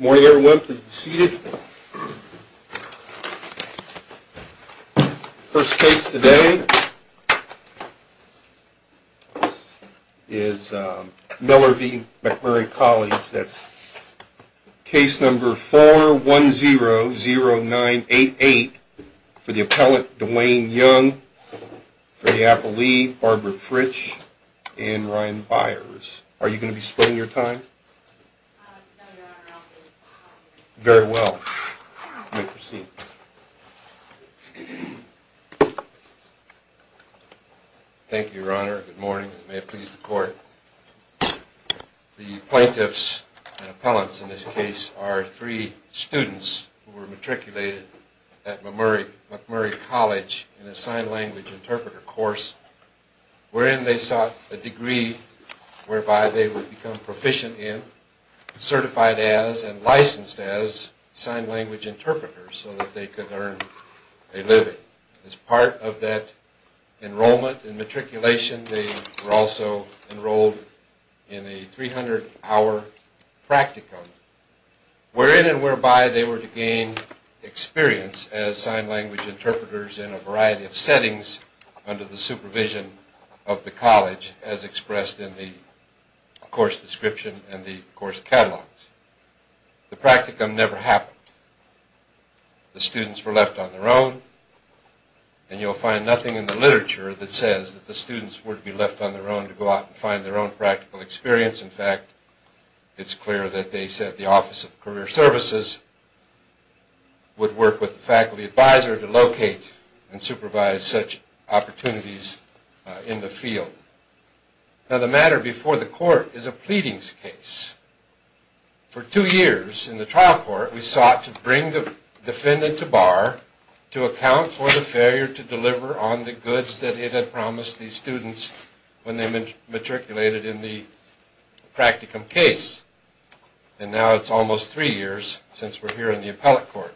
Morning everyone, please be seated. First case today is Miller v. MacMurray College. That's case number 4100988 for the appellant Dwayne Young, for the appellee Barbara Fritsch and Ryan Byers. Are you going to be spending your time? Very well, you may proceed. Thank you, Your Honor. Good morning. May it please the court. The plaintiffs and appellants in this case are three students who were matriculated at MacMurray College in a sign language interpreter course wherein they sought a degree whereby they would become proficient in, certified as, and licensed as sign language interpreters so that they could earn a living. As part of that enrollment and matriculation, they were also enrolled in a 300-hour practicum wherein and whereby they were to gain experience as sign language interpreters in a variety of settings under the supervision of the college as expressed in the course description and the course catalogs. The practicum never happened. The students were left on their own, and you'll find nothing in the literature that says that the students were to be left on their own to go out and find their own practical experience. In fact, it's clear that they said the Office of Career Services would work with the faculty advisor to locate and supervise such opportunities in the field. Now, the matter before the court is a pleadings case. For two years in the trial court, we sought to bring the defendant to bar to account for the failure to deliver on the goods that it had promised the students when they matriculated in the practicum case, and now it's almost three years since we're here in the appellate court.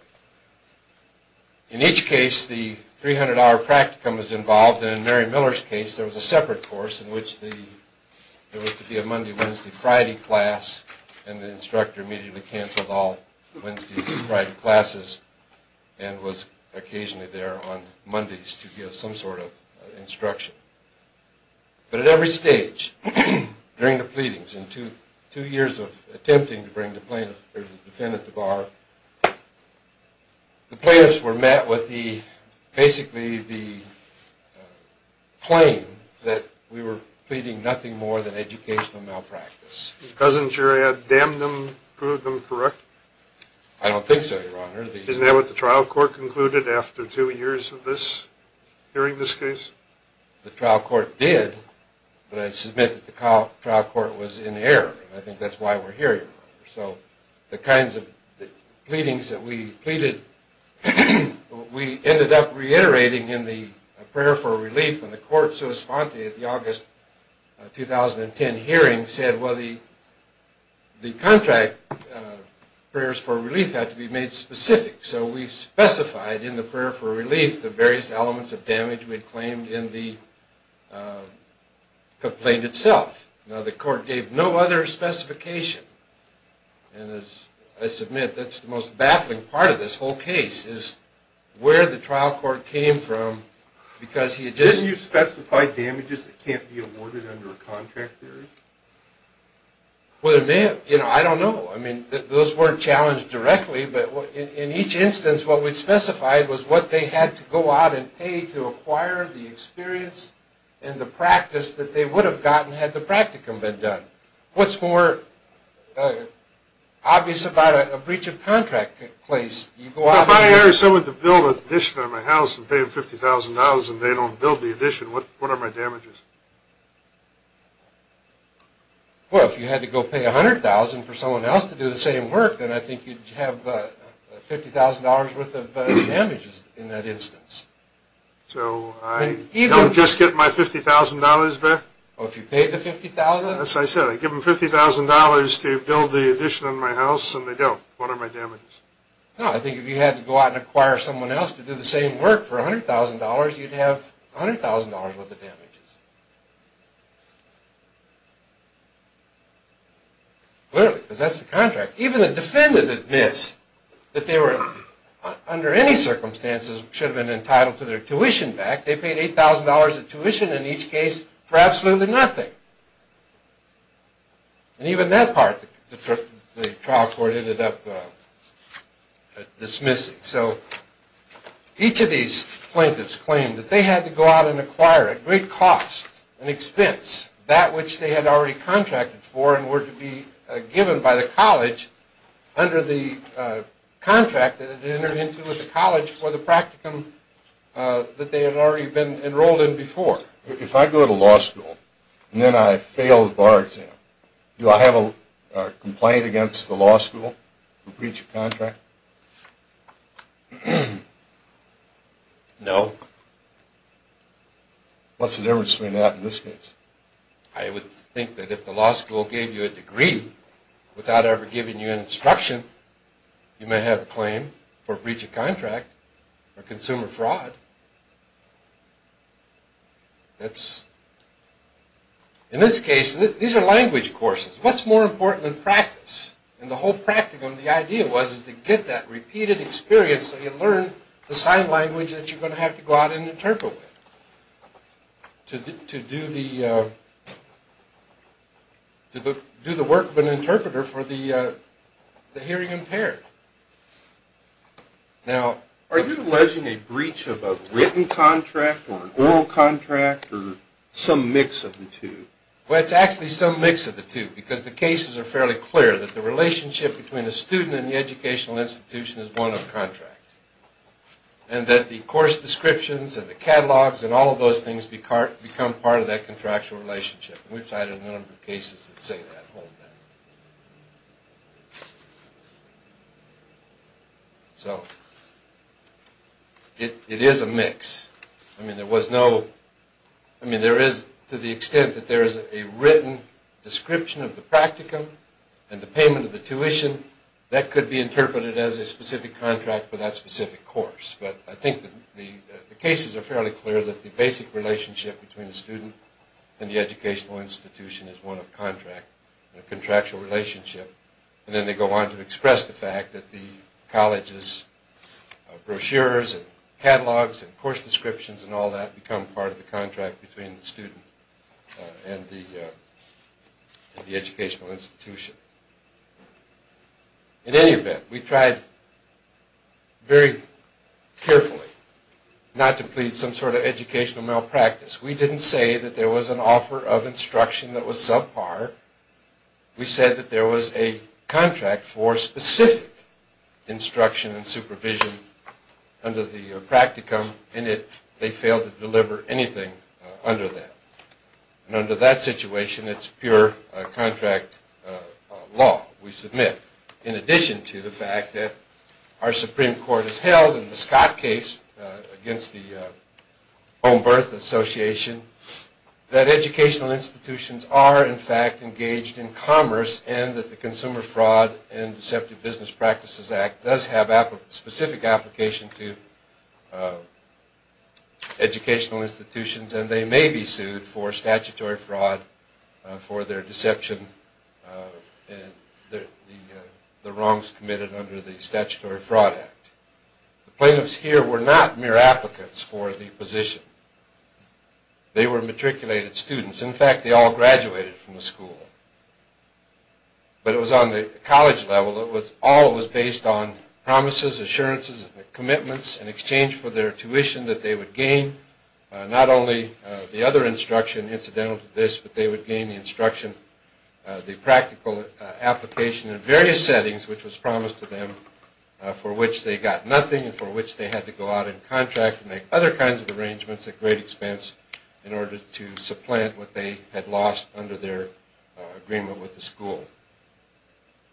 In each case, the 300-hour practicum was involved, and in Mary Miller's case, there was a separate course in which there was to be a Monday, Wednesday, Friday class, and the instructor immediately canceled all Wednesdays and Friday classes and was occasionally there on Mondays to give some sort of instruction. But at every stage during the pleadings, in two years of attempting to bring the plaintiff or the defendant to bar, the plaintiffs were met with basically the claim that we were pleading nothing more than educational malpractice. Doesn't your ad damn them, prove them correct? I don't think so, Your Honor. Isn't that what the trial court concluded after two years of this, hearing this case? The trial court did, but I submit that the trial court was in error. I think that's why we're here, Your Honor. So the kinds of pleadings that we pleaded, we ended up reiterating in the prayer for relief when the court, so to speak, at the August 2010 hearing said, well, the contract prayers for relief had to be made specific. So we specified in the prayer for relief the various elements of damage we had claimed in the complaint itself. Now, the court gave no other specification. And as I submit, that's the most baffling part of this whole case is where the trial court came from because he had just... Didn't you specify damages that can't be awarded under a contract theory? Well, it may have. You know, I don't know. I mean, those weren't challenged directly. But in each instance, what we specified was what they had to go out and pay to acquire the experience and the practice that they would have gotten had the practicum been done. What's more obvious about a breach of contract place? If I hire someone to build an addition on my house and pay them $50,000 and they don't build the addition, what are my damages? Well, if you had to go pay $100,000 for someone else to do the same work, then I think you'd have $50,000 worth of damages in that instance. So I don't just get my $50,000 back? Well, if you paid the $50,000... As I said, I give them $50,000 to build the addition on my house and they don't. What are my damages? No, I think if you had to go out and acquire someone else to do the same work for $100,000, you'd have $100,000 worth of damages. Clearly, because that's the contract. Even the defendant admits that they were, under any circumstances, should have been entitled to their tuition back. They paid $8,000 in tuition in each case for absolutely nothing. And even that part, the trial court ended up dismissing. So each of these plaintiffs claimed that they had to go out and acquire, at great cost and expense, that which they had already contracted for and were to be given by the college under the contract that had entered into with the college for the practicum that they had already been enrolled in before. If I go to law school and then I fail the bar exam, do I have a complaint against the law school for breach of contract? No. What's the difference between that and this case? I would think that if the law school gave you a degree without ever giving you an instruction, you may have a claim for breach of contract or consumer fraud. In this case, these are language courses. What's more important than practice? In the whole practicum, the idea was to get that repeated experience so you learn the sign language that you're going to have to go out and interpret with. To do the work of an interpreter for the hearing impaired. Are you alleging a breach of a written contract or an oral contract or some mix of the two? Well, it's actually some mix of the two because the cases are fairly clear that the relationship between a student and the educational institution is one of contract. And that the course descriptions and the catalogs and all of those things become part of that contractual relationship. We've cited a number of cases that say that. So, it is a mix. There is, to the extent that there is a written description of the practicum and the payment of the tuition, that could be interpreted as a specific contract for that specific course. But I think the cases are fairly clear that the basic relationship between a student and the educational institution is one of contract. A contractual relationship. And then they go on to express the fact that the college's brochures and catalogs and course descriptions and all that become part of the contract between the student and the educational institution. In any event, we tried very carefully not to plead some sort of educational malpractice. We didn't say that there was an offer of instruction that was subpar. We said that there was a contract for specific instruction and supervision under the practicum and that they failed to deliver anything under that. And under that situation, it's pure contract law we submit. In addition to the fact that our Supreme Court has held in the Scott case against the Home Birth Association that educational institutions are in fact engaged in commerce and that the Consumer Fraud and Deceptive Business Practices Act does have specific application to educational institutions and they may be sued for statutory fraud for their deception and the wrongs committed under the Statutory Fraud Act. The plaintiffs here were not mere applicants for the position. They were matriculated students. In fact, they all graduated from the school. But it was on the college level. All of it was based on promises, assurances, and commitments in exchange for their tuition that they would gain not only the other instruction incidental to this, but they would gain the instruction, the practical application in various settings, which was promised to them, for which they got nothing and for which they had to go out and contract and make other kinds of arrangements at great expense in order to supplant what they had lost under their agreement with the school.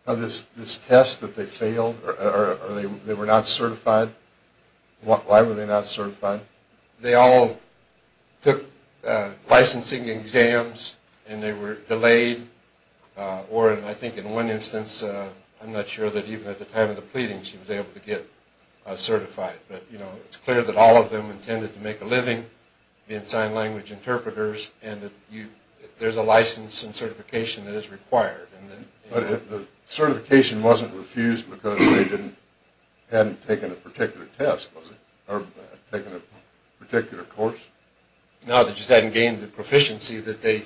This test that they failed, they were not certified? Why were they not certified? They all took licensing exams and they were delayed or, I think in one instance, I'm not sure that even at the time of the pleading she was able to get certified. But, you know, it's clear that all of them intended to make a living being sign language interpreters and there's a license and certification that is required. But the certification wasn't refused because they hadn't taken a particular test, was it? Or taken a particular course? No, they just hadn't gained the proficiency that they...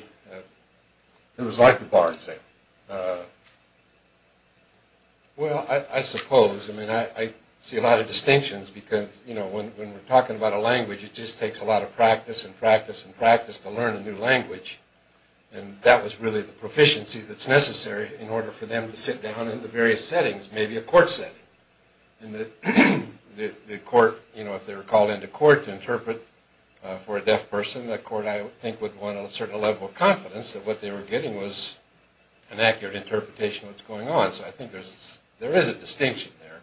It was like the bar exam. Well, I suppose. I mean, I see a lot of distinctions because, you know, when we're talking about a language, it just takes a lot of practice and practice and practice to learn a new language. And that was really the proficiency that's necessary in order for them to sit down in the various settings, maybe a court setting. And the court, you know, if they were called into court to interpret for a deaf person, the court, I think, would want a certain level of confidence that what they were getting was an accurate interpretation of what's going on. So I think there is a distinction there.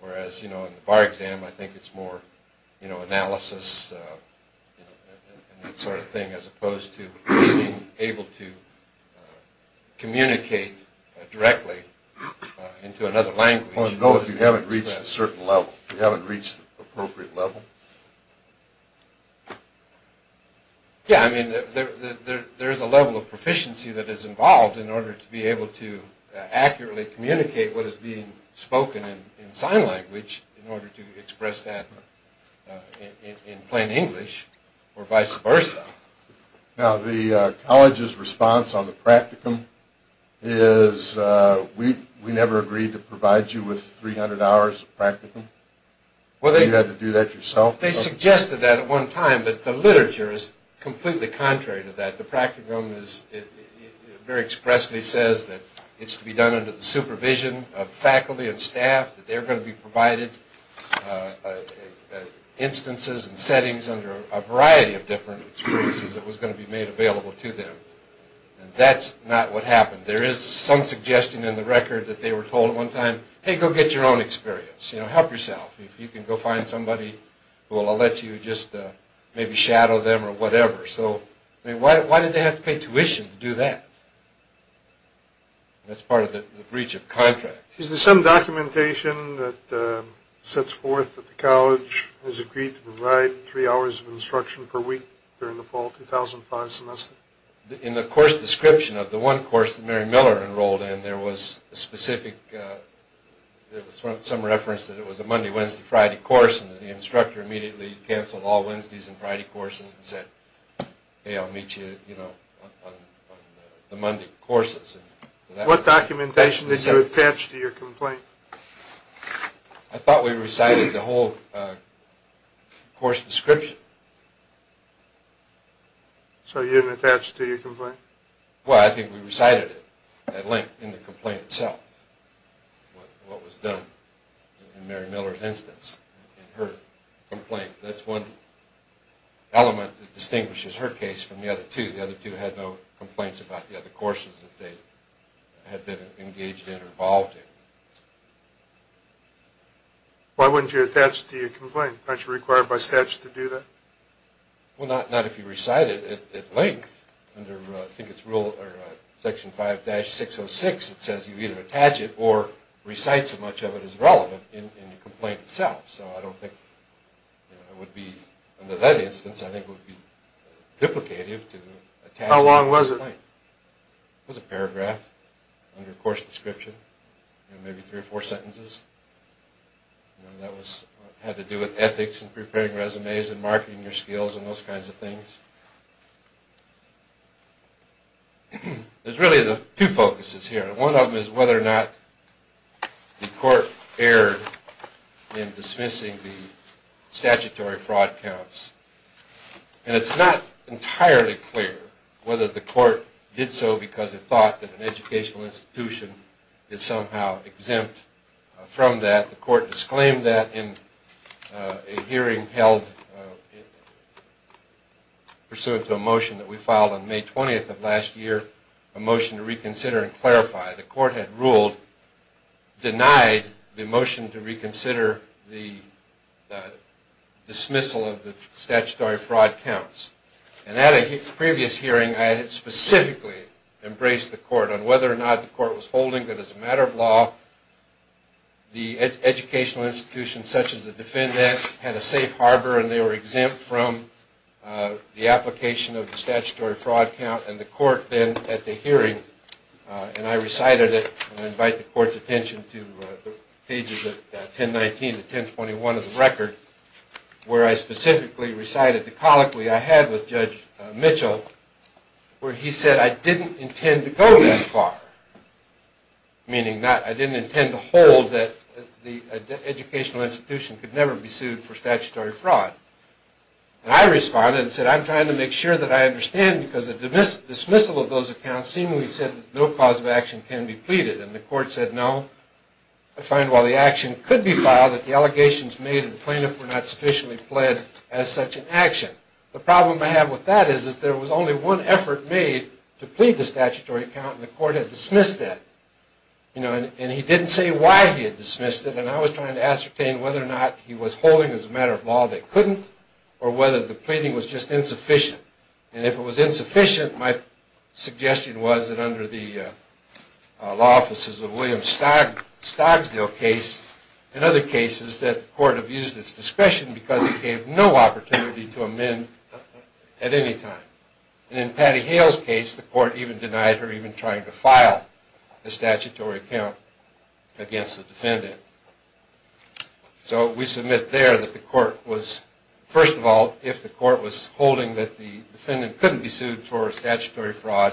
Whereas, you know, in the bar exam, I think it's more, you know, analysis and that sort of thing as opposed to being able to communicate directly into another language. Well, no, if you haven't reached a certain level. If you haven't reached the appropriate level. Yeah, I mean, there is a level of proficiency that is involved in order to be able to accurately communicate what is being spoken in sign language in order to express that in plain English or vice versa. Now, the college's response on the practicum is, we never agreed to provide you with 300 hours of practicum. You had to do that yourself? They suggested that at one time, but the literature is completely contrary to that. The practicum very expressly says that it's to be done under the supervision of faculty and staff, that they're going to be provided instances and settings under a variety of different experiences that was going to be made available to them. And that's not what happened. There is some suggestion in the record that they were told at one time, hey, go get your own experience, you know, help yourself. If you can go find somebody who will let you just maybe shadow them or whatever. So, I mean, why did they have to pay tuition to do that? That's part of the breach of contract. Is there some documentation that sets forth that the college has agreed to provide three hours of instruction per week during the fall 2005 semester? In the course description of the one course that Mary Miller enrolled in, there was a specific, there was some reference that it was a Monday, Wednesday, Friday course, and the instructor immediately canceled all Wednesdays and Friday courses and said, hey, I'll meet you, you know, on the Monday courses. What documentation did you attach to your complaint? I thought we recited the whole course description. So you didn't attach it to your complaint? Well, I think we recited it at length in the complaint itself, what was done in Mary Miller's instance in her complaint. That's one element that distinguishes her case from the other two. The other two had no complaints about the other courses that they had been engaged in or involved in. Why wouldn't you attach it to your complaint? Aren't you required by statute to do that? Well, not if you recite it at length. Under, I think it's rule, Section 5-606, it says you either attach it or recite so much of it as relevant in the complaint itself. So I don't think it would be, under that instance, I think it would be duplicative to attach it. How long was it? It was a paragraph under course description, maybe three or four sentences. That had to do with ethics and preparing resumes and marketing your skills and those kinds of things. There's really two focuses here. One of them is whether or not the court erred in dismissing the statutory fraud counts. And it's not entirely clear whether the court did so because it thought that an educational institution is somehow exempt from that. The court disclaimed that in a hearing held pursuant to a motion that we filed on May 20th of last year, a motion to reconsider and clarify, the court had ruled, denied the motion to reconsider the dismissal of the statutory fraud counts. And at a previous hearing, I had specifically embraced the court on whether or not the court was holding that as a matter of law, the educational institution such as the defendant had a safe harbor and they were exempt from the application of the statutory fraud count. And the court then, at the hearing, and I recited it, and I invite the court's attention to pages 1019 to 1021 of the record, where I specifically recited the colloquy I had with Judge Mitchell where he said, I didn't intend to go that far, meaning I didn't intend to hold that the educational institution could never be sued for statutory fraud. And I responded and said, I'm trying to make sure that I understand because the dismissal of those accounts seemingly said that no cause of action can be pleaded. And the court said, no, I find while the action could be filed, that the allegations made and the plaintiff were not sufficiently pled as such an action. The problem I have with that is that there was only one effort made to plead the statutory count and the court had dismissed that. And he didn't say why he had dismissed it, and I was trying to ascertain whether or not he was holding as a matter of law they couldn't or whether the pleading was just insufficient. And if it was insufficient, my suggestion was that under the law offices of William Stogsdale case and other cases that the court abused its discretion because it gave no opportunity to amend at any time. And in Patty Hale's case, the court even denied her even trying to file the statutory count against the defendant. So we submit there that the court was, first of all, if the court was holding that the defendant couldn't be sued for statutory fraud,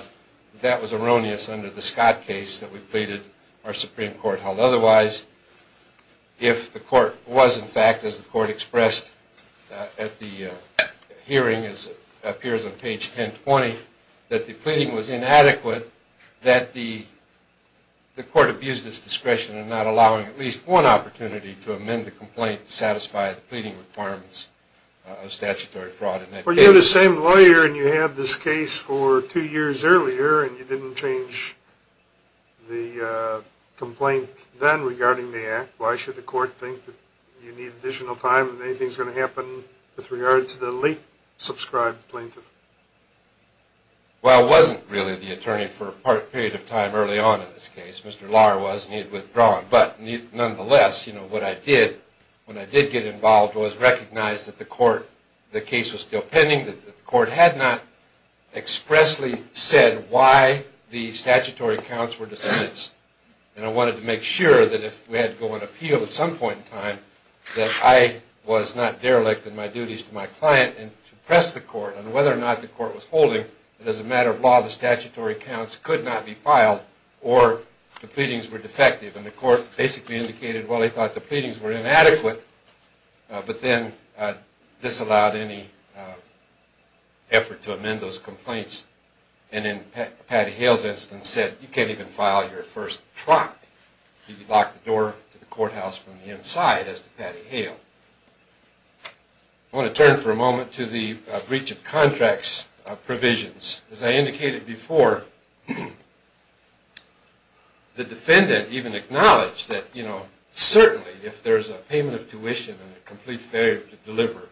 that was erroneous under the Scott case that we pleaded our Supreme Court held otherwise. If the court was in fact, as the court expressed at the hearing as it appears on page 1020, that the pleading was inadequate, that the court abused its discretion and not allowing at least one opportunity to amend the complaint to satisfy the pleading requirements of statutory fraud in that case. Well, you're the same lawyer and you had this case for two years earlier and you didn't change the complaint then regarding the act. Why should the court think that you need additional time and anything's going to happen with regard to the late, subscribed plaintiff? Well, I wasn't really the attorney for a part period of time early on in this case. Mr. Lahr was and he had withdrawn. But nonetheless, what I did when I did get involved was recognize that the court, the case was still pending, that the court had not expressly said why the statutory counts were dismissed. And I wanted to make sure that if we had to go on appeal at some point in time that I was not derelict in my duties to my client and to press the court on whether or not the court was holding that as a matter of law, the statutory counts could not be filed or the pleadings were defective. And the court basically indicated, well, they thought the pleadings were inadequate, but then disallowed any effort to amend those complaints. And in Patty Hale's instance said, you can't even file your first trot if you lock the door to the courthouse from the inside, as to Patty Hale. I want to turn for a moment to the breach of contracts provisions. As I indicated before, the defendant even acknowledged that, you know, certainly if there's a payment of tuition and a complete failure to deliver,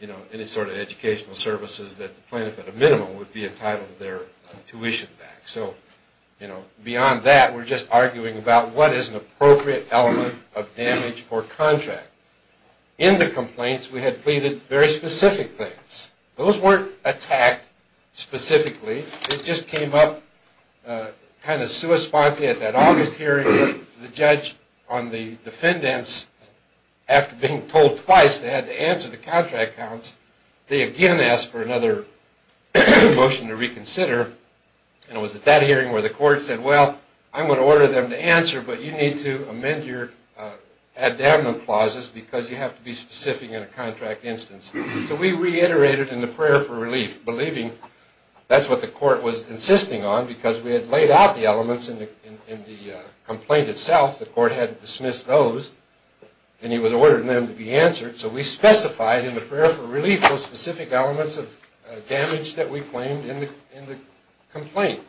you know, any sort of educational services, that the plaintiff at a minimum would be entitled to their tuition back. So, you know, beyond that, we're just arguing about what is an appropriate element of damage for contract. In the complaints, we had pleaded very specific things. Those weren't attacked specifically. It just came up kind of sui sponte at that August hearing. The judge on the defendants, after being told twice they had to answer the contract counts, they again asked for another motion to reconsider. And it was at that hearing where the court said, well, I'm going to order them to answer, but you need to amend your ad-demnum clauses because you have to be specific in a contract instance. So we reiterated in the prayer for relief, believing that's what the court was insisting on because we had laid out the elements in the complaint itself. The court had dismissed those, and he was ordering them to be answered. So we specified in the prayer for relief those specific elements of damage that we claimed in the complaint.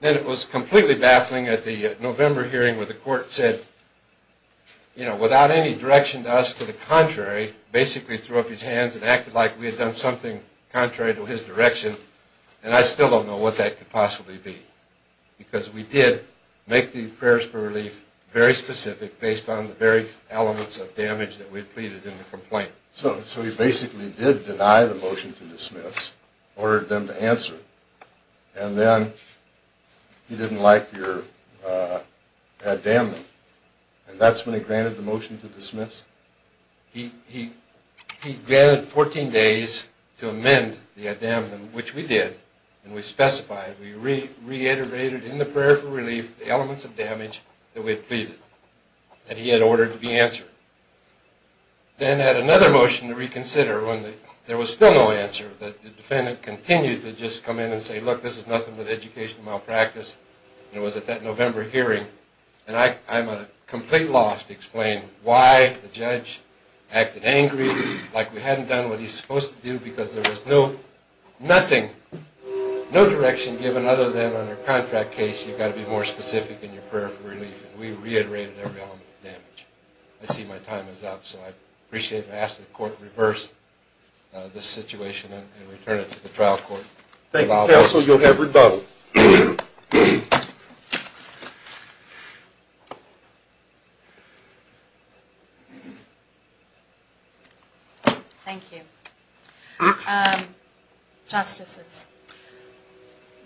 Then it was completely baffling at the November hearing where the court said, you know, without any direction to us, to the contrary, basically threw up his hands and acted like we had done something contrary to his direction, and I still don't know what that could possibly be because we did make the prayers for relief very specific based on the various elements of damage that we had pleaded in the complaint. So he basically did deny the motion to dismiss, ordered them to answer, and then he didn't like your ad-demnum. And that's when he granted the motion to dismiss. He granted 14 days to amend the ad-demnum, which we did, and we specified. We reiterated in the prayer for relief the elements of damage that we had pleaded that he had ordered to be answered. Then at another motion to reconsider when there was still no answer, the defendant continued to just come in and say, look, this is nothing but educational malpractice. It was at that November hearing, and I'm at complete loss to explain why the judge acted angry like we hadn't done what he's supposed to do because there was nothing, no direction given other than on a contract case you've got to be more specific in your prayer for relief, and we reiterated every element of damage. I see my time is up, so I appreciate asking the court to reverse this situation and return it to the trial court. Thank you, counsel. You'll have rebuttal. Thank you. Justices,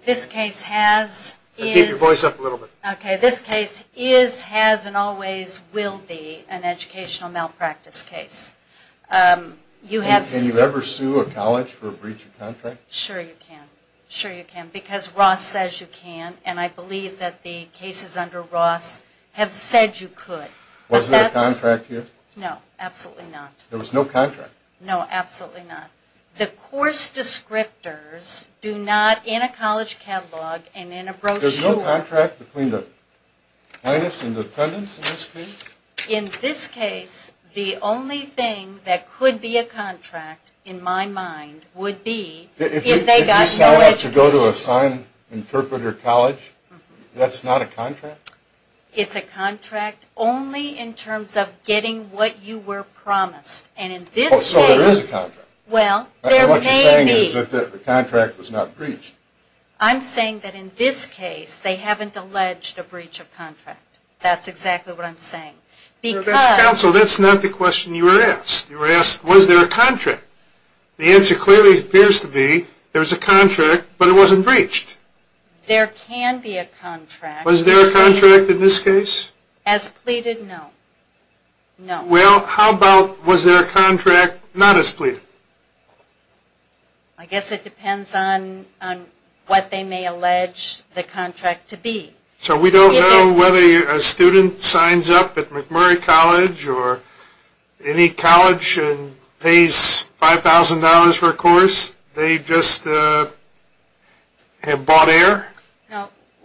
this case has, is- Keep your voice up a little bit. Okay, this case is, has, and always will be an educational malpractice case. Can you ever sue a college for a breach of contract? Sure you can. Sure you can, because Ross says you can, and I believe that the cases under Ross have said you could. Was there a contract here? No, absolutely not. There was no contract? No, absolutely not. The course descriptors do not, in a college catalog and in a brochure- There's no contract between the plaintiffs and the defendants in this case? In this case, the only thing that could be a contract, in my mind, would be- If you signed up to go to a sign interpreter college, that's not a contract? It's a contract only in terms of getting what you were promised, and in this case- So there is a contract? Well, there may be. What you're saying is that the contract was not breached? I'm saying that in this case, they haven't alleged a breach of contract. That's exactly what I'm saying, because- Counsel, that's not the question you were asked. You were asked, was there a contract? The answer clearly appears to be, there's a contract, but it wasn't breached. There can be a contract. Was there a contract in this case? As pleaded, no. Well, how about, was there a contract not as pleaded? I guess it depends on what they may allege the contract to be. So we don't know whether a student signs up at McMurray College or any college and pays $5,000 for a course, they just have bought air?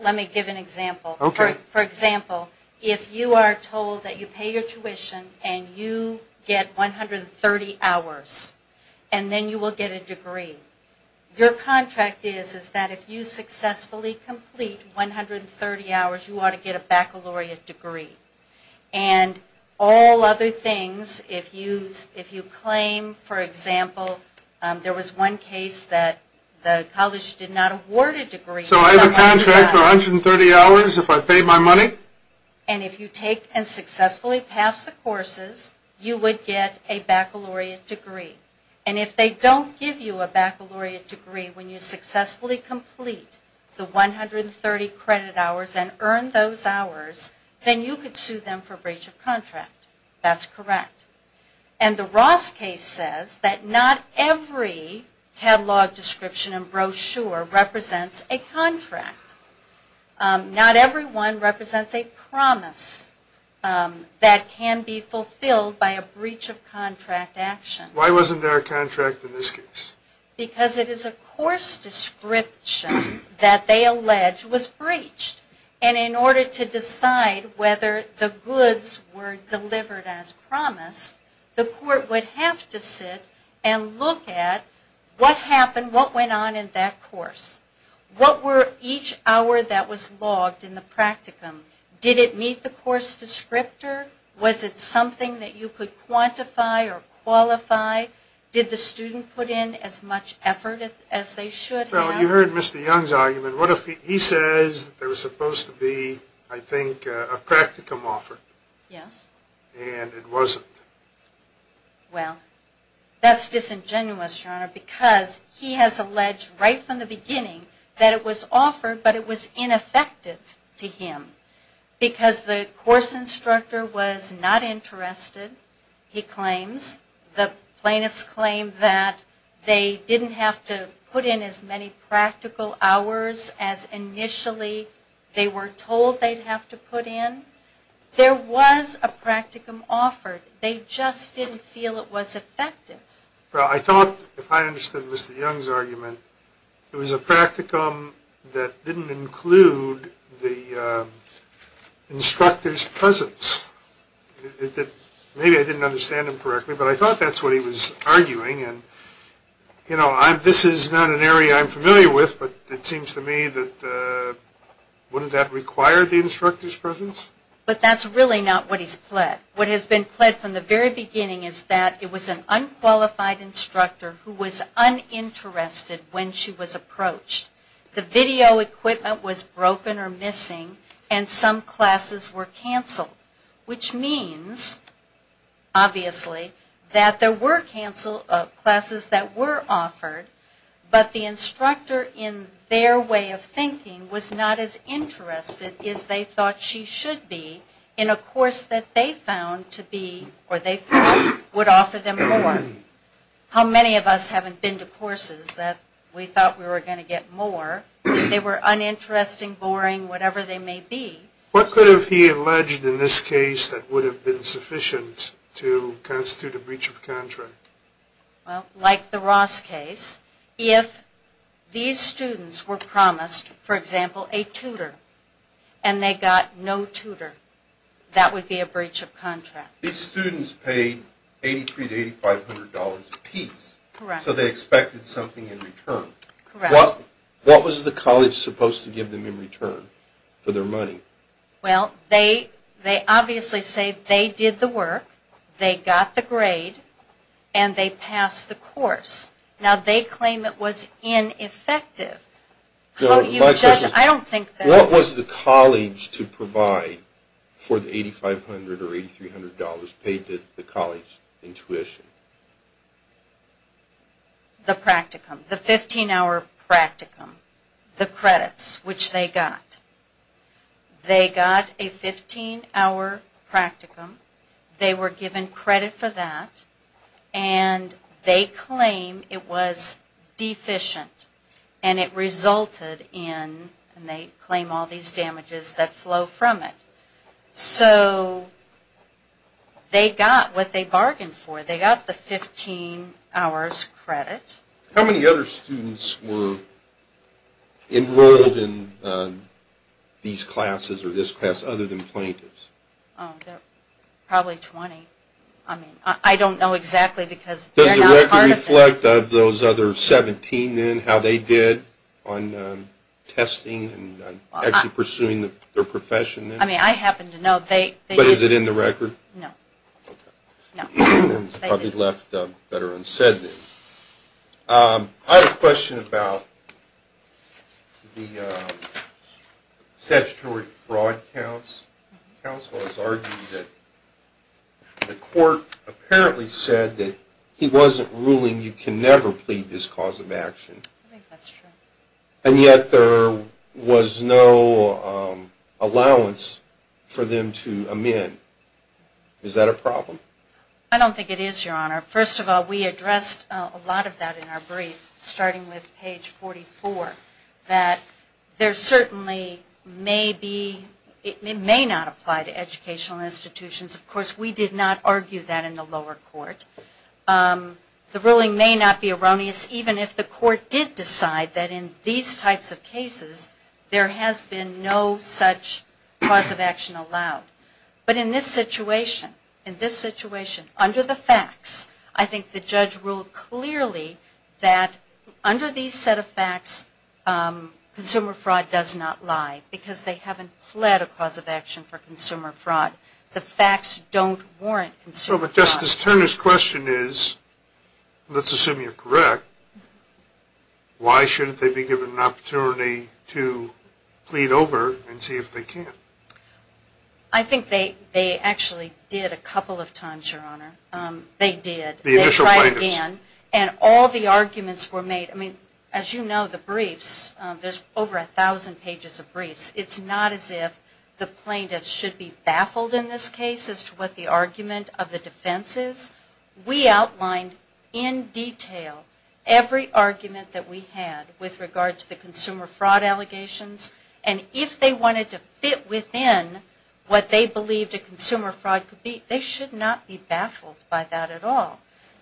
Let me give an example. For example, if you are told that you pay your tuition and you get 130 hours, and then you will get a degree, your contract is that if you successfully complete 130 hours, you ought to get a baccalaureate degree. And all other things, if you claim, for example, there was one case that the college did not award a degree- So I have a contract for 130 hours if I pay my money? And if you take and successfully pass the courses, you would get a baccalaureate degree. And if they don't give you a baccalaureate degree when you successfully complete the 130 credit hours and earn those hours, then you could sue them for breach of contract. That's correct. And the Ross case says that not every catalog description and brochure represents a contract. Not everyone represents a promise that can be fulfilled by a breach of contract action. Why wasn't there a contract in this case? Because it is a course description that they allege was breached. And in order to decide whether the goods were delivered as promised, the court would have to sit and look at what happened, what went on in that course. What were each hour that was logged in the practicum? Did it meet the course descriptor? Was it something that you could quantify or qualify? Did the student put in as much effort as they should have? Well, you heard Mr. Young's argument. He says there was supposed to be, I think, a practicum offered. Yes. And it wasn't. Well, that's disingenuous, Your Honor, because he has alleged right from the beginning that it was offered, but it was ineffective to him. Because the course instructor was not interested, he claims. The plaintiffs claim that they didn't have to put in as many practical hours as initially they were told they'd have to put in. There was a practicum offered. They just didn't feel it was effective. Well, I thought, if I understood Mr. Young's argument, it was a practicum that didn't include the instructor's presence. Maybe I didn't understand him correctly, but I thought that's what he was arguing. This is not an area I'm familiar with, but it seems to me that wouldn't that require the instructor's presence? But that's really not what he's pled. What has been pled from the very beginning is that it was an unqualified instructor who was uninterested when she was approached. The video equipment was broken or missing, and some classes were canceled. Which means, obviously, that there were classes that were offered, but the instructor, in their way of thinking, was not as interested as they thought she should be in a course that they found to be, or they thought would offer them more. How many of us haven't been to courses that we thought we were going to get more? They were uninteresting, boring, whatever they may be. What could have he alleged in this case that would have been sufficient to constitute a breach of contract? Well, like the Ross case, if these students were promised, for example, a tutor, and they got no tutor, that would be a breach of contract. These students paid $8,300 to $8,500 apiece, so they expected something in return. Correct. What was the college supposed to give them in return for their money? Well, they obviously say they did the work, they got the grade, and they passed the course. Now, they claim it was ineffective. What was the college to provide for the $8,500 or $8,300 paid to the college in tuition? The practicum, the 15-hour practicum, the credits, which they got. They got a 15-hour practicum. They were given credit for that, and they claim it was deficient, and it resulted in, and they claim all these damages that flow from it. So they got what they bargained for. They got the 15 hours credit. How many other students were enrolled in these classes or this class other than plaintiffs? Probably 20. I mean, I don't know exactly because they're not part of this. Does the record reflect of those other 17 then, how they did on testing and actually pursuing their profession then? I mean, I happen to know they did. But is it in the record? No. Okay. It's probably left better unsaid then. I have a question about the statutory fraud counts. Counsel has argued that the court apparently said that he wasn't ruling you can never plead this cause of action. That's true. And yet there was no allowance for them to amend. Is that a problem? I don't think it is, Your Honor. First of all, we addressed a lot of that in our brief, starting with page 44, that there certainly may be, it may not apply to educational institutions. Of course, we did not argue that in the lower court. The ruling may not be erroneous even if the court did decide that in these types of cases there has been no such cause of action allowed. But in this situation, in this situation, under the facts, I think the judge ruled clearly that under these set of facts, consumer fraud does not lie because they haven't pled a cause of action for consumer fraud. The facts don't warrant consumer fraud. But Justice Turner's question is, let's assume you're correct, why shouldn't they be given an opportunity to plead over and see if they can? I think they actually did a couple of times, Your Honor. They did. The initial plaintiffs. And all the arguments were made. I mean, as you know, the briefs, there's over a thousand pages of briefs. It's not as if the plaintiffs should be baffled in this case as to what the argument of the defense is. We outlined in detail every argument that we had with regard to the consumer fraud allegations. And if they wanted to fit within what they believed a consumer fraud could be, they should not be baffled by that at all.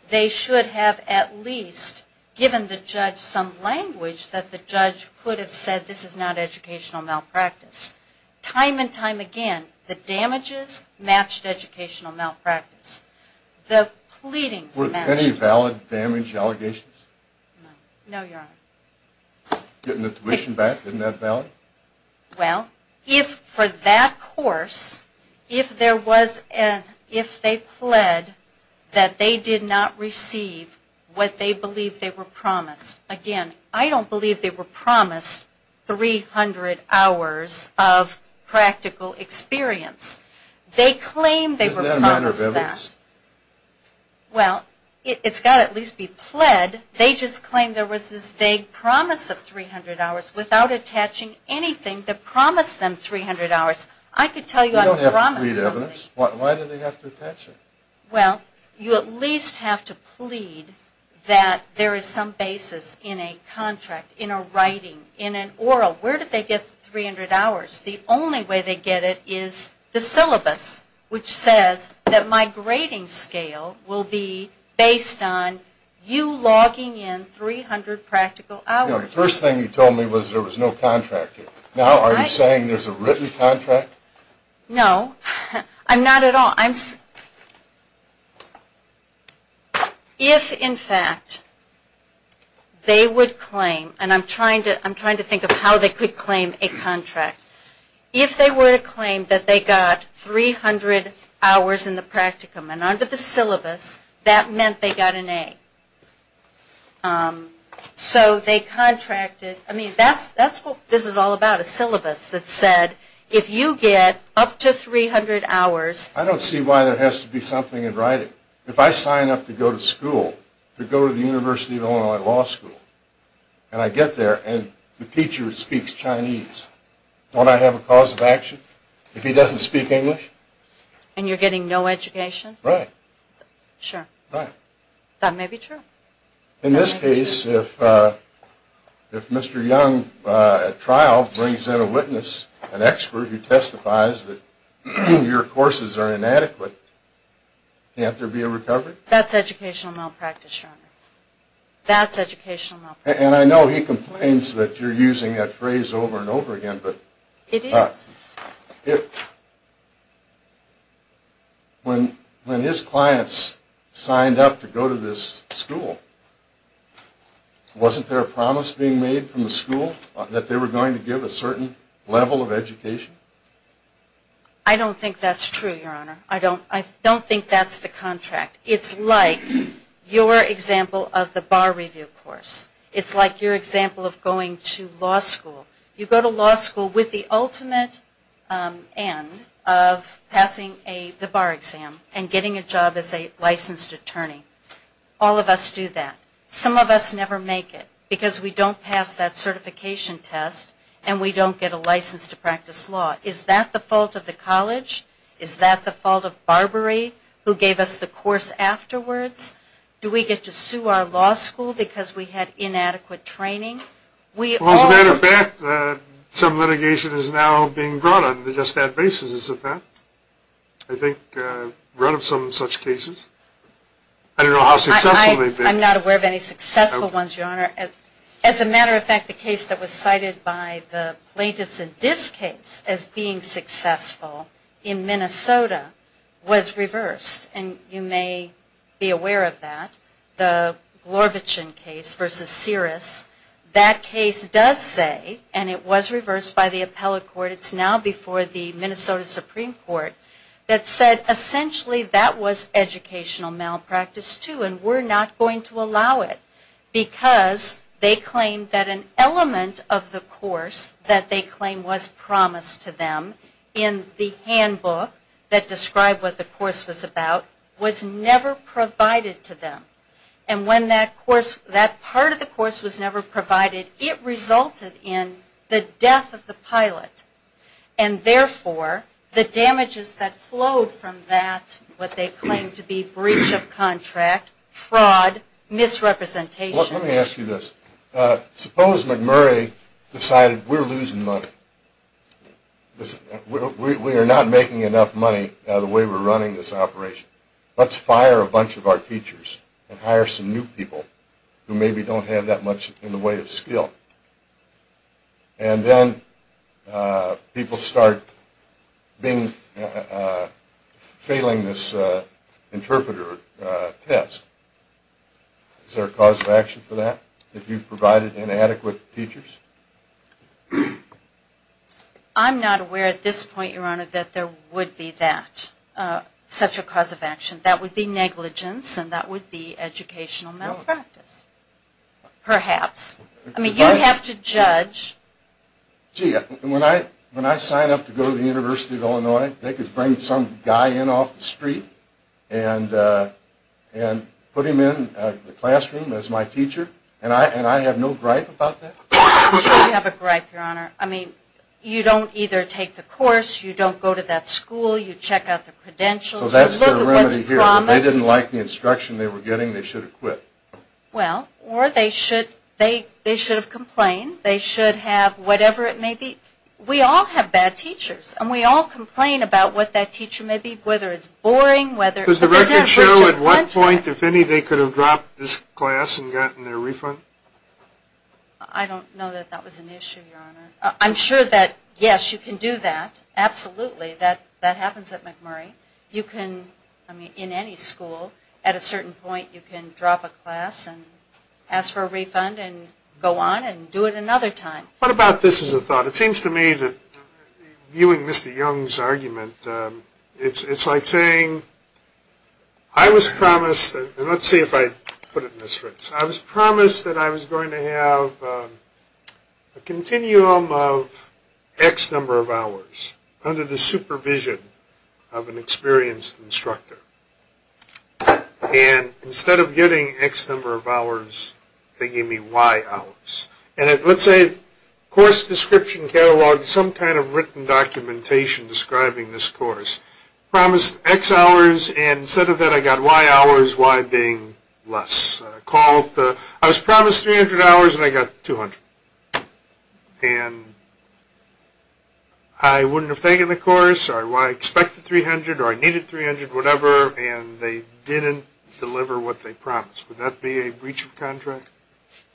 They should have at least given the judge some language that the judge could have said this is not educational malpractice. Time and time again, the damages matched educational malpractice. The pleadings matched. Were any valid damage allegations? No, Your Honor. Getting the tuition back, isn't that valid? Well, if for that course, if there was an if they pled that they did not receive what they believed they were promised. Again, I don't believe they were promised 300 hours of practical experience. They claimed they were promised that. Isn't that a matter of evidence? Well, it's got to at least be pled. They just claimed there was this vague promise of 300 hours without attaching anything that promised them 300 hours. I could tell you I'm promising. You don't have to plead evidence. Why do they have to pledge it? Well, you at least have to plead that there is some basis in a contract, in a writing, in an oral. Where did they get 300 hours? The only way they get it is the syllabus, which says that my grading scale will be based on you logging in 300 practical hours. The first thing you told me was there was no contract here. Now are you saying there's a written contract? No. I'm not at all. If, in fact, they would claim, and I'm trying to think of how they could claim a contract, if they were to claim that they got 300 hours in the practicum and under the syllabus, that meant they got an A. So they contracted. I mean, that's what this is all about, a syllabus that said if you get up to 300 hours. I don't see why there has to be something in writing. If I sign up to go to school, to go to the University of Illinois Law School, and I get there and the teacher speaks Chinese, don't I have a cause of action if he doesn't speak English? And you're getting no education? Right. Sure. Right. That may be true. In this case, if Mr. Young, at trial, brings in a witness, an expert who testifies that your courses are inadequate, can't there be a recovery? That's educational malpractice, Your Honor. That's educational malpractice. And I know he complains that you're using that phrase over and over again. It is. When his clients signed up to go to this school, wasn't there a promise being made from the school that they were going to give a certain level of education? I don't think that's true, Your Honor. I don't think that's the contract. It's like your example of the bar review course. It's like your example of going to law school. You go to law school with the ultimate end of passing the bar exam and getting a job as a licensed attorney. All of us do that. Some of us never make it because we don't pass that certification test and we don't get a license to practice law. Is that the fault of the college? Is that the fault of Barbary, who gave us the course afterwards? Do we get to sue our law school because we had inadequate training? As a matter of fact, some litigation is now being brought on just that basis. I think we're out of some such cases. I don't know how successful they've been. I'm not aware of any successful ones, Your Honor. As a matter of fact, the case that was cited by the plaintiffs in this case as being successful in Minnesota was reversed. And you may be aware of that. The Glorvichen case versus Siris, that case does say, and it was reversed by the appellate court, it's now before the Minnesota Supreme Court, that said essentially that was educational malpractice too and we're not going to allow it because they claim that an element of the course that they claim was promised to them in the handbook that described what the course was about was never provided to them. And when that part of the course was never provided, it resulted in the death of the pilot. And therefore, the damages that flowed from that, what they claim to be breach of contract, fraud, misrepresentation. Let me ask you this. Suppose McMurray decided we're losing money. We are not making enough money out of the way we're running this operation. Let's fire a bunch of our teachers and hire some new people who maybe don't have that much in the way of skill. And then people start failing this interpreter test. Is there a cause of action for that if you've provided inadequate teachers? I'm not aware at this point, Your Honor, that there would be that, such a cause of action. That would be negligence and that would be educational malpractice. Perhaps. I mean, you have to judge. They could bring some guy in off the street and put him in the classroom as my teacher. And I have no gripe about that. I'm sure you have a gripe, Your Honor. I mean, you don't either take the course, you don't go to that school, you check out the credentials. So that's the remedy here. If they didn't like the instruction they were getting, they should have quit. Well, or they should have complained. They should have whatever it may be. We all have bad teachers. And we all complain about what that teacher may be, whether it's boring. Does the record show at what point, if any, they could have dropped this class and gotten their refund? I don't know that that was an issue, Your Honor. I'm sure that, yes, you can do that. Absolutely. That happens at McMurray. You can, I mean, in any school, at a certain point, you can drop a class and ask for a refund and go on and do it another time. What about this as a thought? It seems to me that viewing Mr. Young's argument, it's like saying, I was promised, and let's see if I put it in this right, I was promised that I was going to have a continuum of X number of hours under the supervision of an experienced instructor. And instead of getting X number of hours, they gave me Y hours. And let's say Course Description Catalog, some kind of written documentation describing this course, promised X hours, and instead of that I got Y hours, Y being less. I was promised 300 hours, and I got 200. And I wouldn't have taken the course, or I expected 300, or I needed 300, whatever, and they didn't deliver what they promised. Would that be a breach of contract?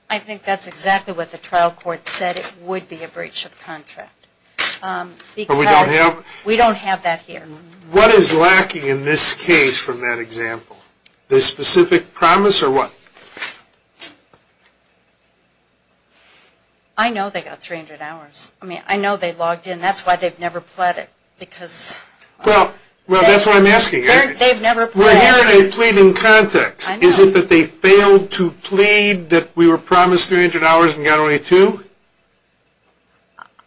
I think that's exactly what the trial court said. It would be a breach of contract. We don't have that here. What is lacking in this case from that example? The specific promise or what? I know they got 300 hours. I mean, I know they logged in. That's why they've never pled it, because. Well, that's what I'm asking. They've never pled it. If we're hearing a plea in context, is it that they failed to plead that we were promised 300 hours and got only two?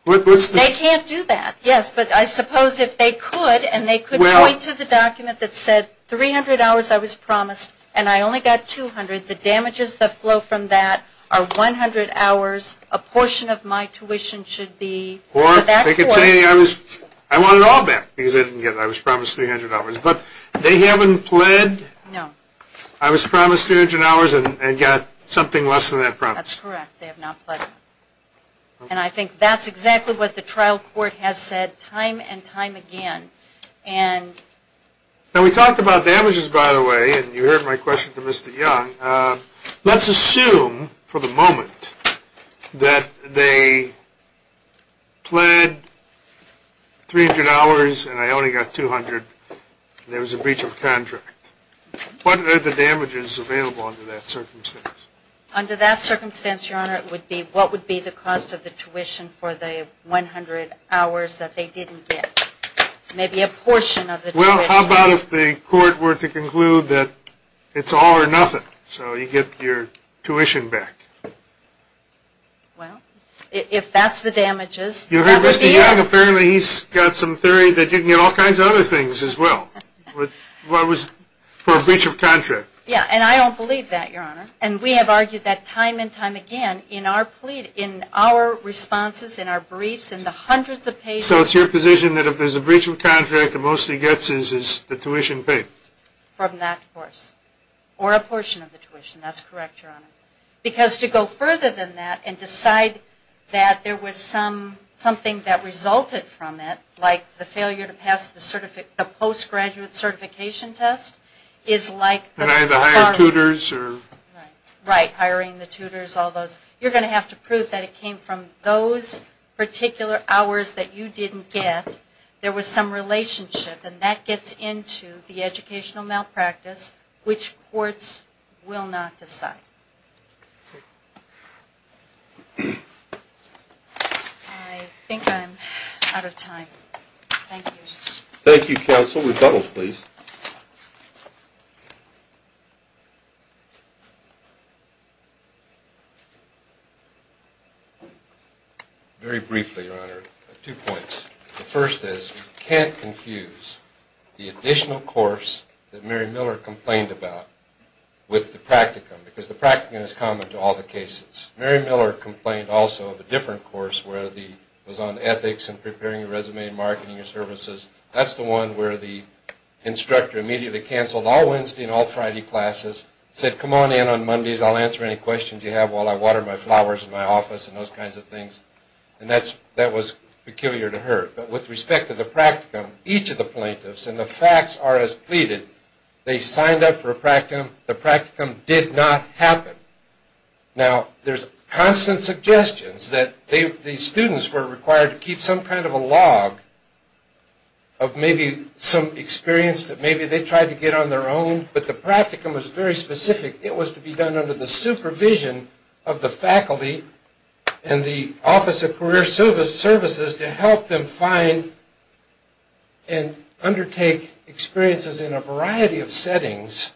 They can't do that, yes. But I suppose if they could, and they could point to the document that said, 300 hours I was promised, and I only got 200. The damages that flow from that are 100 hours. A portion of my tuition should be for that course. I want it all back, because I didn't get it. I was promised 300 hours. But they haven't pled? No. I was promised 300 hours and got something less than that promise. That's correct. They have not pled. And I think that's exactly what the trial court has said time and time again. Now, we talked about damages, by the way, and you heard my question to Mr. Young. Let's assume for the moment that they pled 300 hours and I only got 200, and there was a breach of contract. What are the damages available under that circumstance? Under that circumstance, Your Honor, it would be what would be the cost of the tuition for the 100 hours that they didn't get. Maybe a portion of the tuition. Well, how about if the court were to conclude that it's all or nothing, so you get your tuition back? Well, if that's the damages, that would be it. You heard Mr. Young. Apparently he's got some theory that you can get all kinds of other things as well for a breach of contract. Yeah, and I don't believe that, Your Honor. And we have argued that time and time again in our plea, in our responses, in our briefs, in the hundreds of pages. So it's your position that if there's a breach of contract, the most he gets is the tuition paid? From that course. Or a portion of the tuition. That's correct, Your Honor. Because to go further than that and decide that there was something that resulted from it, like the failure to pass the postgraduate certification test, is like the... And either hiring tutors or... Right, hiring the tutors, all those. You're going to have to prove that it came from those particular hours that you didn't get. There was some relationship, and that gets into the educational malpractice, which courts will not decide. I think I'm out of time. Thank you. Thank you, counsel. Counsel, rebuttals, please. Very briefly, Your Honor, two points. The first is we can't confuse the additional course that Mary Miller complained about with the practicum, because the practicum is common to all the cases. Mary Miller complained also of a different course where it was on ethics and preparing your resume and marketing your services. That's the one where the instructor immediately canceled all Wednesday and all Friday classes, said, come on in on Mondays. I'll answer any questions you have while I water my flowers in my office and those kinds of things. And that was peculiar to her. But with respect to the practicum, each of the plaintiffs, and the facts are as pleaded, they signed up for a practicum. The practicum did not happen. Now, there's constant suggestions that the students were required to keep some kind of a log of maybe some experience that maybe they tried to get on their own. But the practicum was very specific. It was to be done under the supervision of the faculty and the Office of Career Services to help them find and undertake experiences in a variety of settings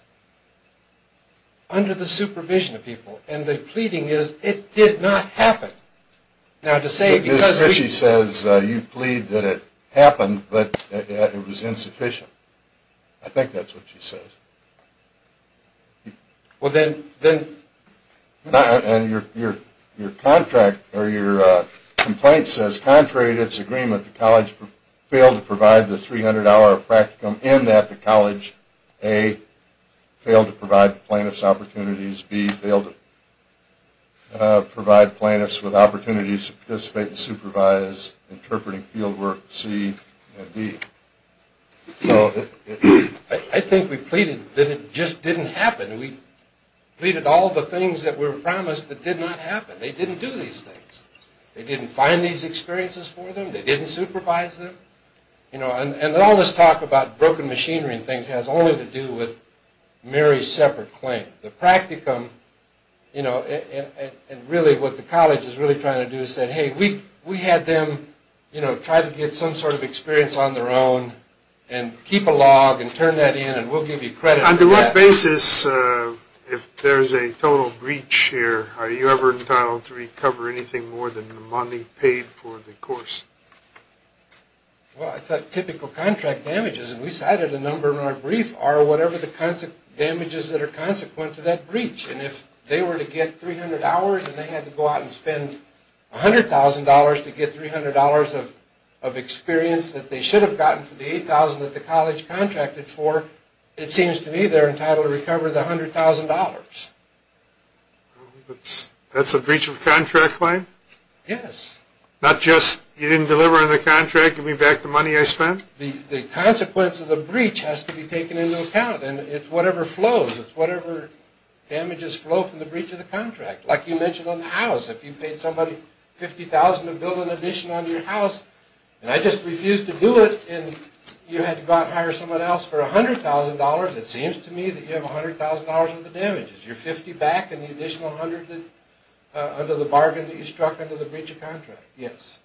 under the supervision of people. And the pleading is, it did not happen. Now, to say because we... Ms. Critchie says you plead that it happened, but it was insufficient. I think that's what she says. Well, then... And your complaint says, contrary to its agreement, that the college failed to provide the 300-hour practicum, and that the college, A, failed to provide plaintiffs opportunities, B, failed to provide plaintiffs with opportunities to participate and supervise interpreting fieldwork, C, and D. So I think we pleaded that it just didn't happen. We pleaded all the things that were promised that did not happen. They didn't do these things. They didn't find these experiences for them. They didn't supervise them. And all this talk about broken machinery and things has only to do with Mary's separate claim. The practicum, and really what the college is really trying to do is say, hey, we had them try to get some sort of experience on their own and keep a log and turn that in, and we'll give you credit for that. On what basis, if there's a total breach here, are you ever entitled to recover anything more than the money paid for the course? Well, I thought typical contract damages, and we cited a number in our brief, are whatever the damages that are consequent to that breach. And if they were to get 300 hours and they had to go out and spend $100,000 to get $300 of experience that they should have gotten for the $8,000 that the college contracted for, it seems to me they're entitled to recover the $100,000. That's a breach of contract claim? Yes. Not just you didn't deliver on the contract, give me back the money I spent? The consequence of the breach has to be taken into account. And it's whatever flows, it's whatever damages flow from the breach of the contract. Like you mentioned on the house, if you paid somebody $50,000 to build an addition on your house, and I just refused to do it, and you had to go out and hire someone else for $100,000, it seems to me that you have $100,000 worth of damages. You're $50,000 back and the additional $100,000 under the bargain that you struck under the breach of contract. Yes.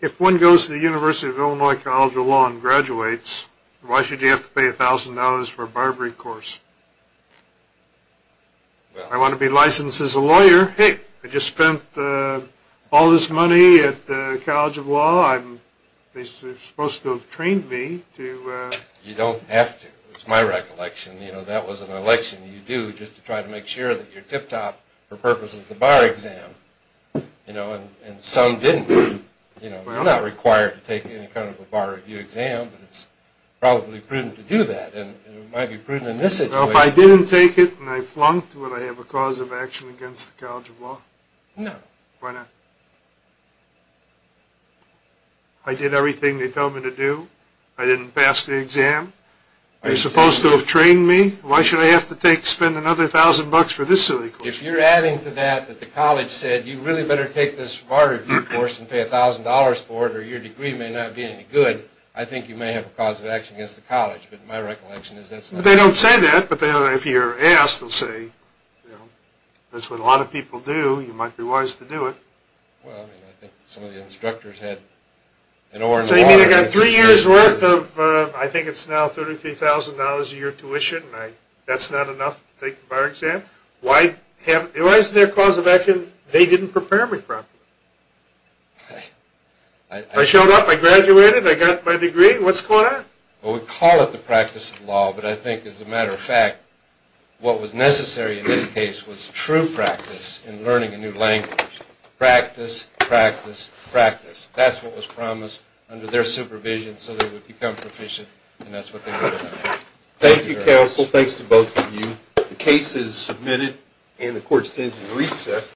If one goes to the University of Illinois College of Law and graduates, why should you have to pay $1,000 for a bribery course? I want to be licensed as a lawyer. Hey, I just spent all this money at the College of Law. They're supposed to have trained me. You don't have to, is my recollection. That was an election you do just to try to make sure that you're tip-top for purposes of the bar exam. And some didn't. You're not required to take any kind of a bar review exam, but it's probably prudent to do that. It might be prudent in this situation. Well, if I didn't take it and I flunked, would I have a cause of action against the College of Law? No. Why not? I did everything they told me to do. I didn't pass the exam. They're supposed to have trained me. Why should I have to spend another $1,000 for this silly course? If you're adding to that that the college said you really better take this bar review course and pay $1,000 for it or your degree may not be any good, I think you may have a cause of action against the college. But my recollection is that's not true. They don't say that. But if you're asked, they'll say that's what a lot of people do. You might be wise to do it. Well, I mean, I think some of the instructors had an orange wallet. So you mean I got three years' worth of, I think it's now $33,000 a year tuition, and that's not enough to take the bar exam? Why is there a cause of action they didn't prepare me for? I showed up. I graduated. I got my degree. What's going on? What was necessary in this case was true practice in learning a new language. Practice, practice, practice. That's what was promised under their supervision so they would become proficient, and that's what they were doing. Thank you, counsel. Thanks to both of you. The case is submitted, and the court stands in recess.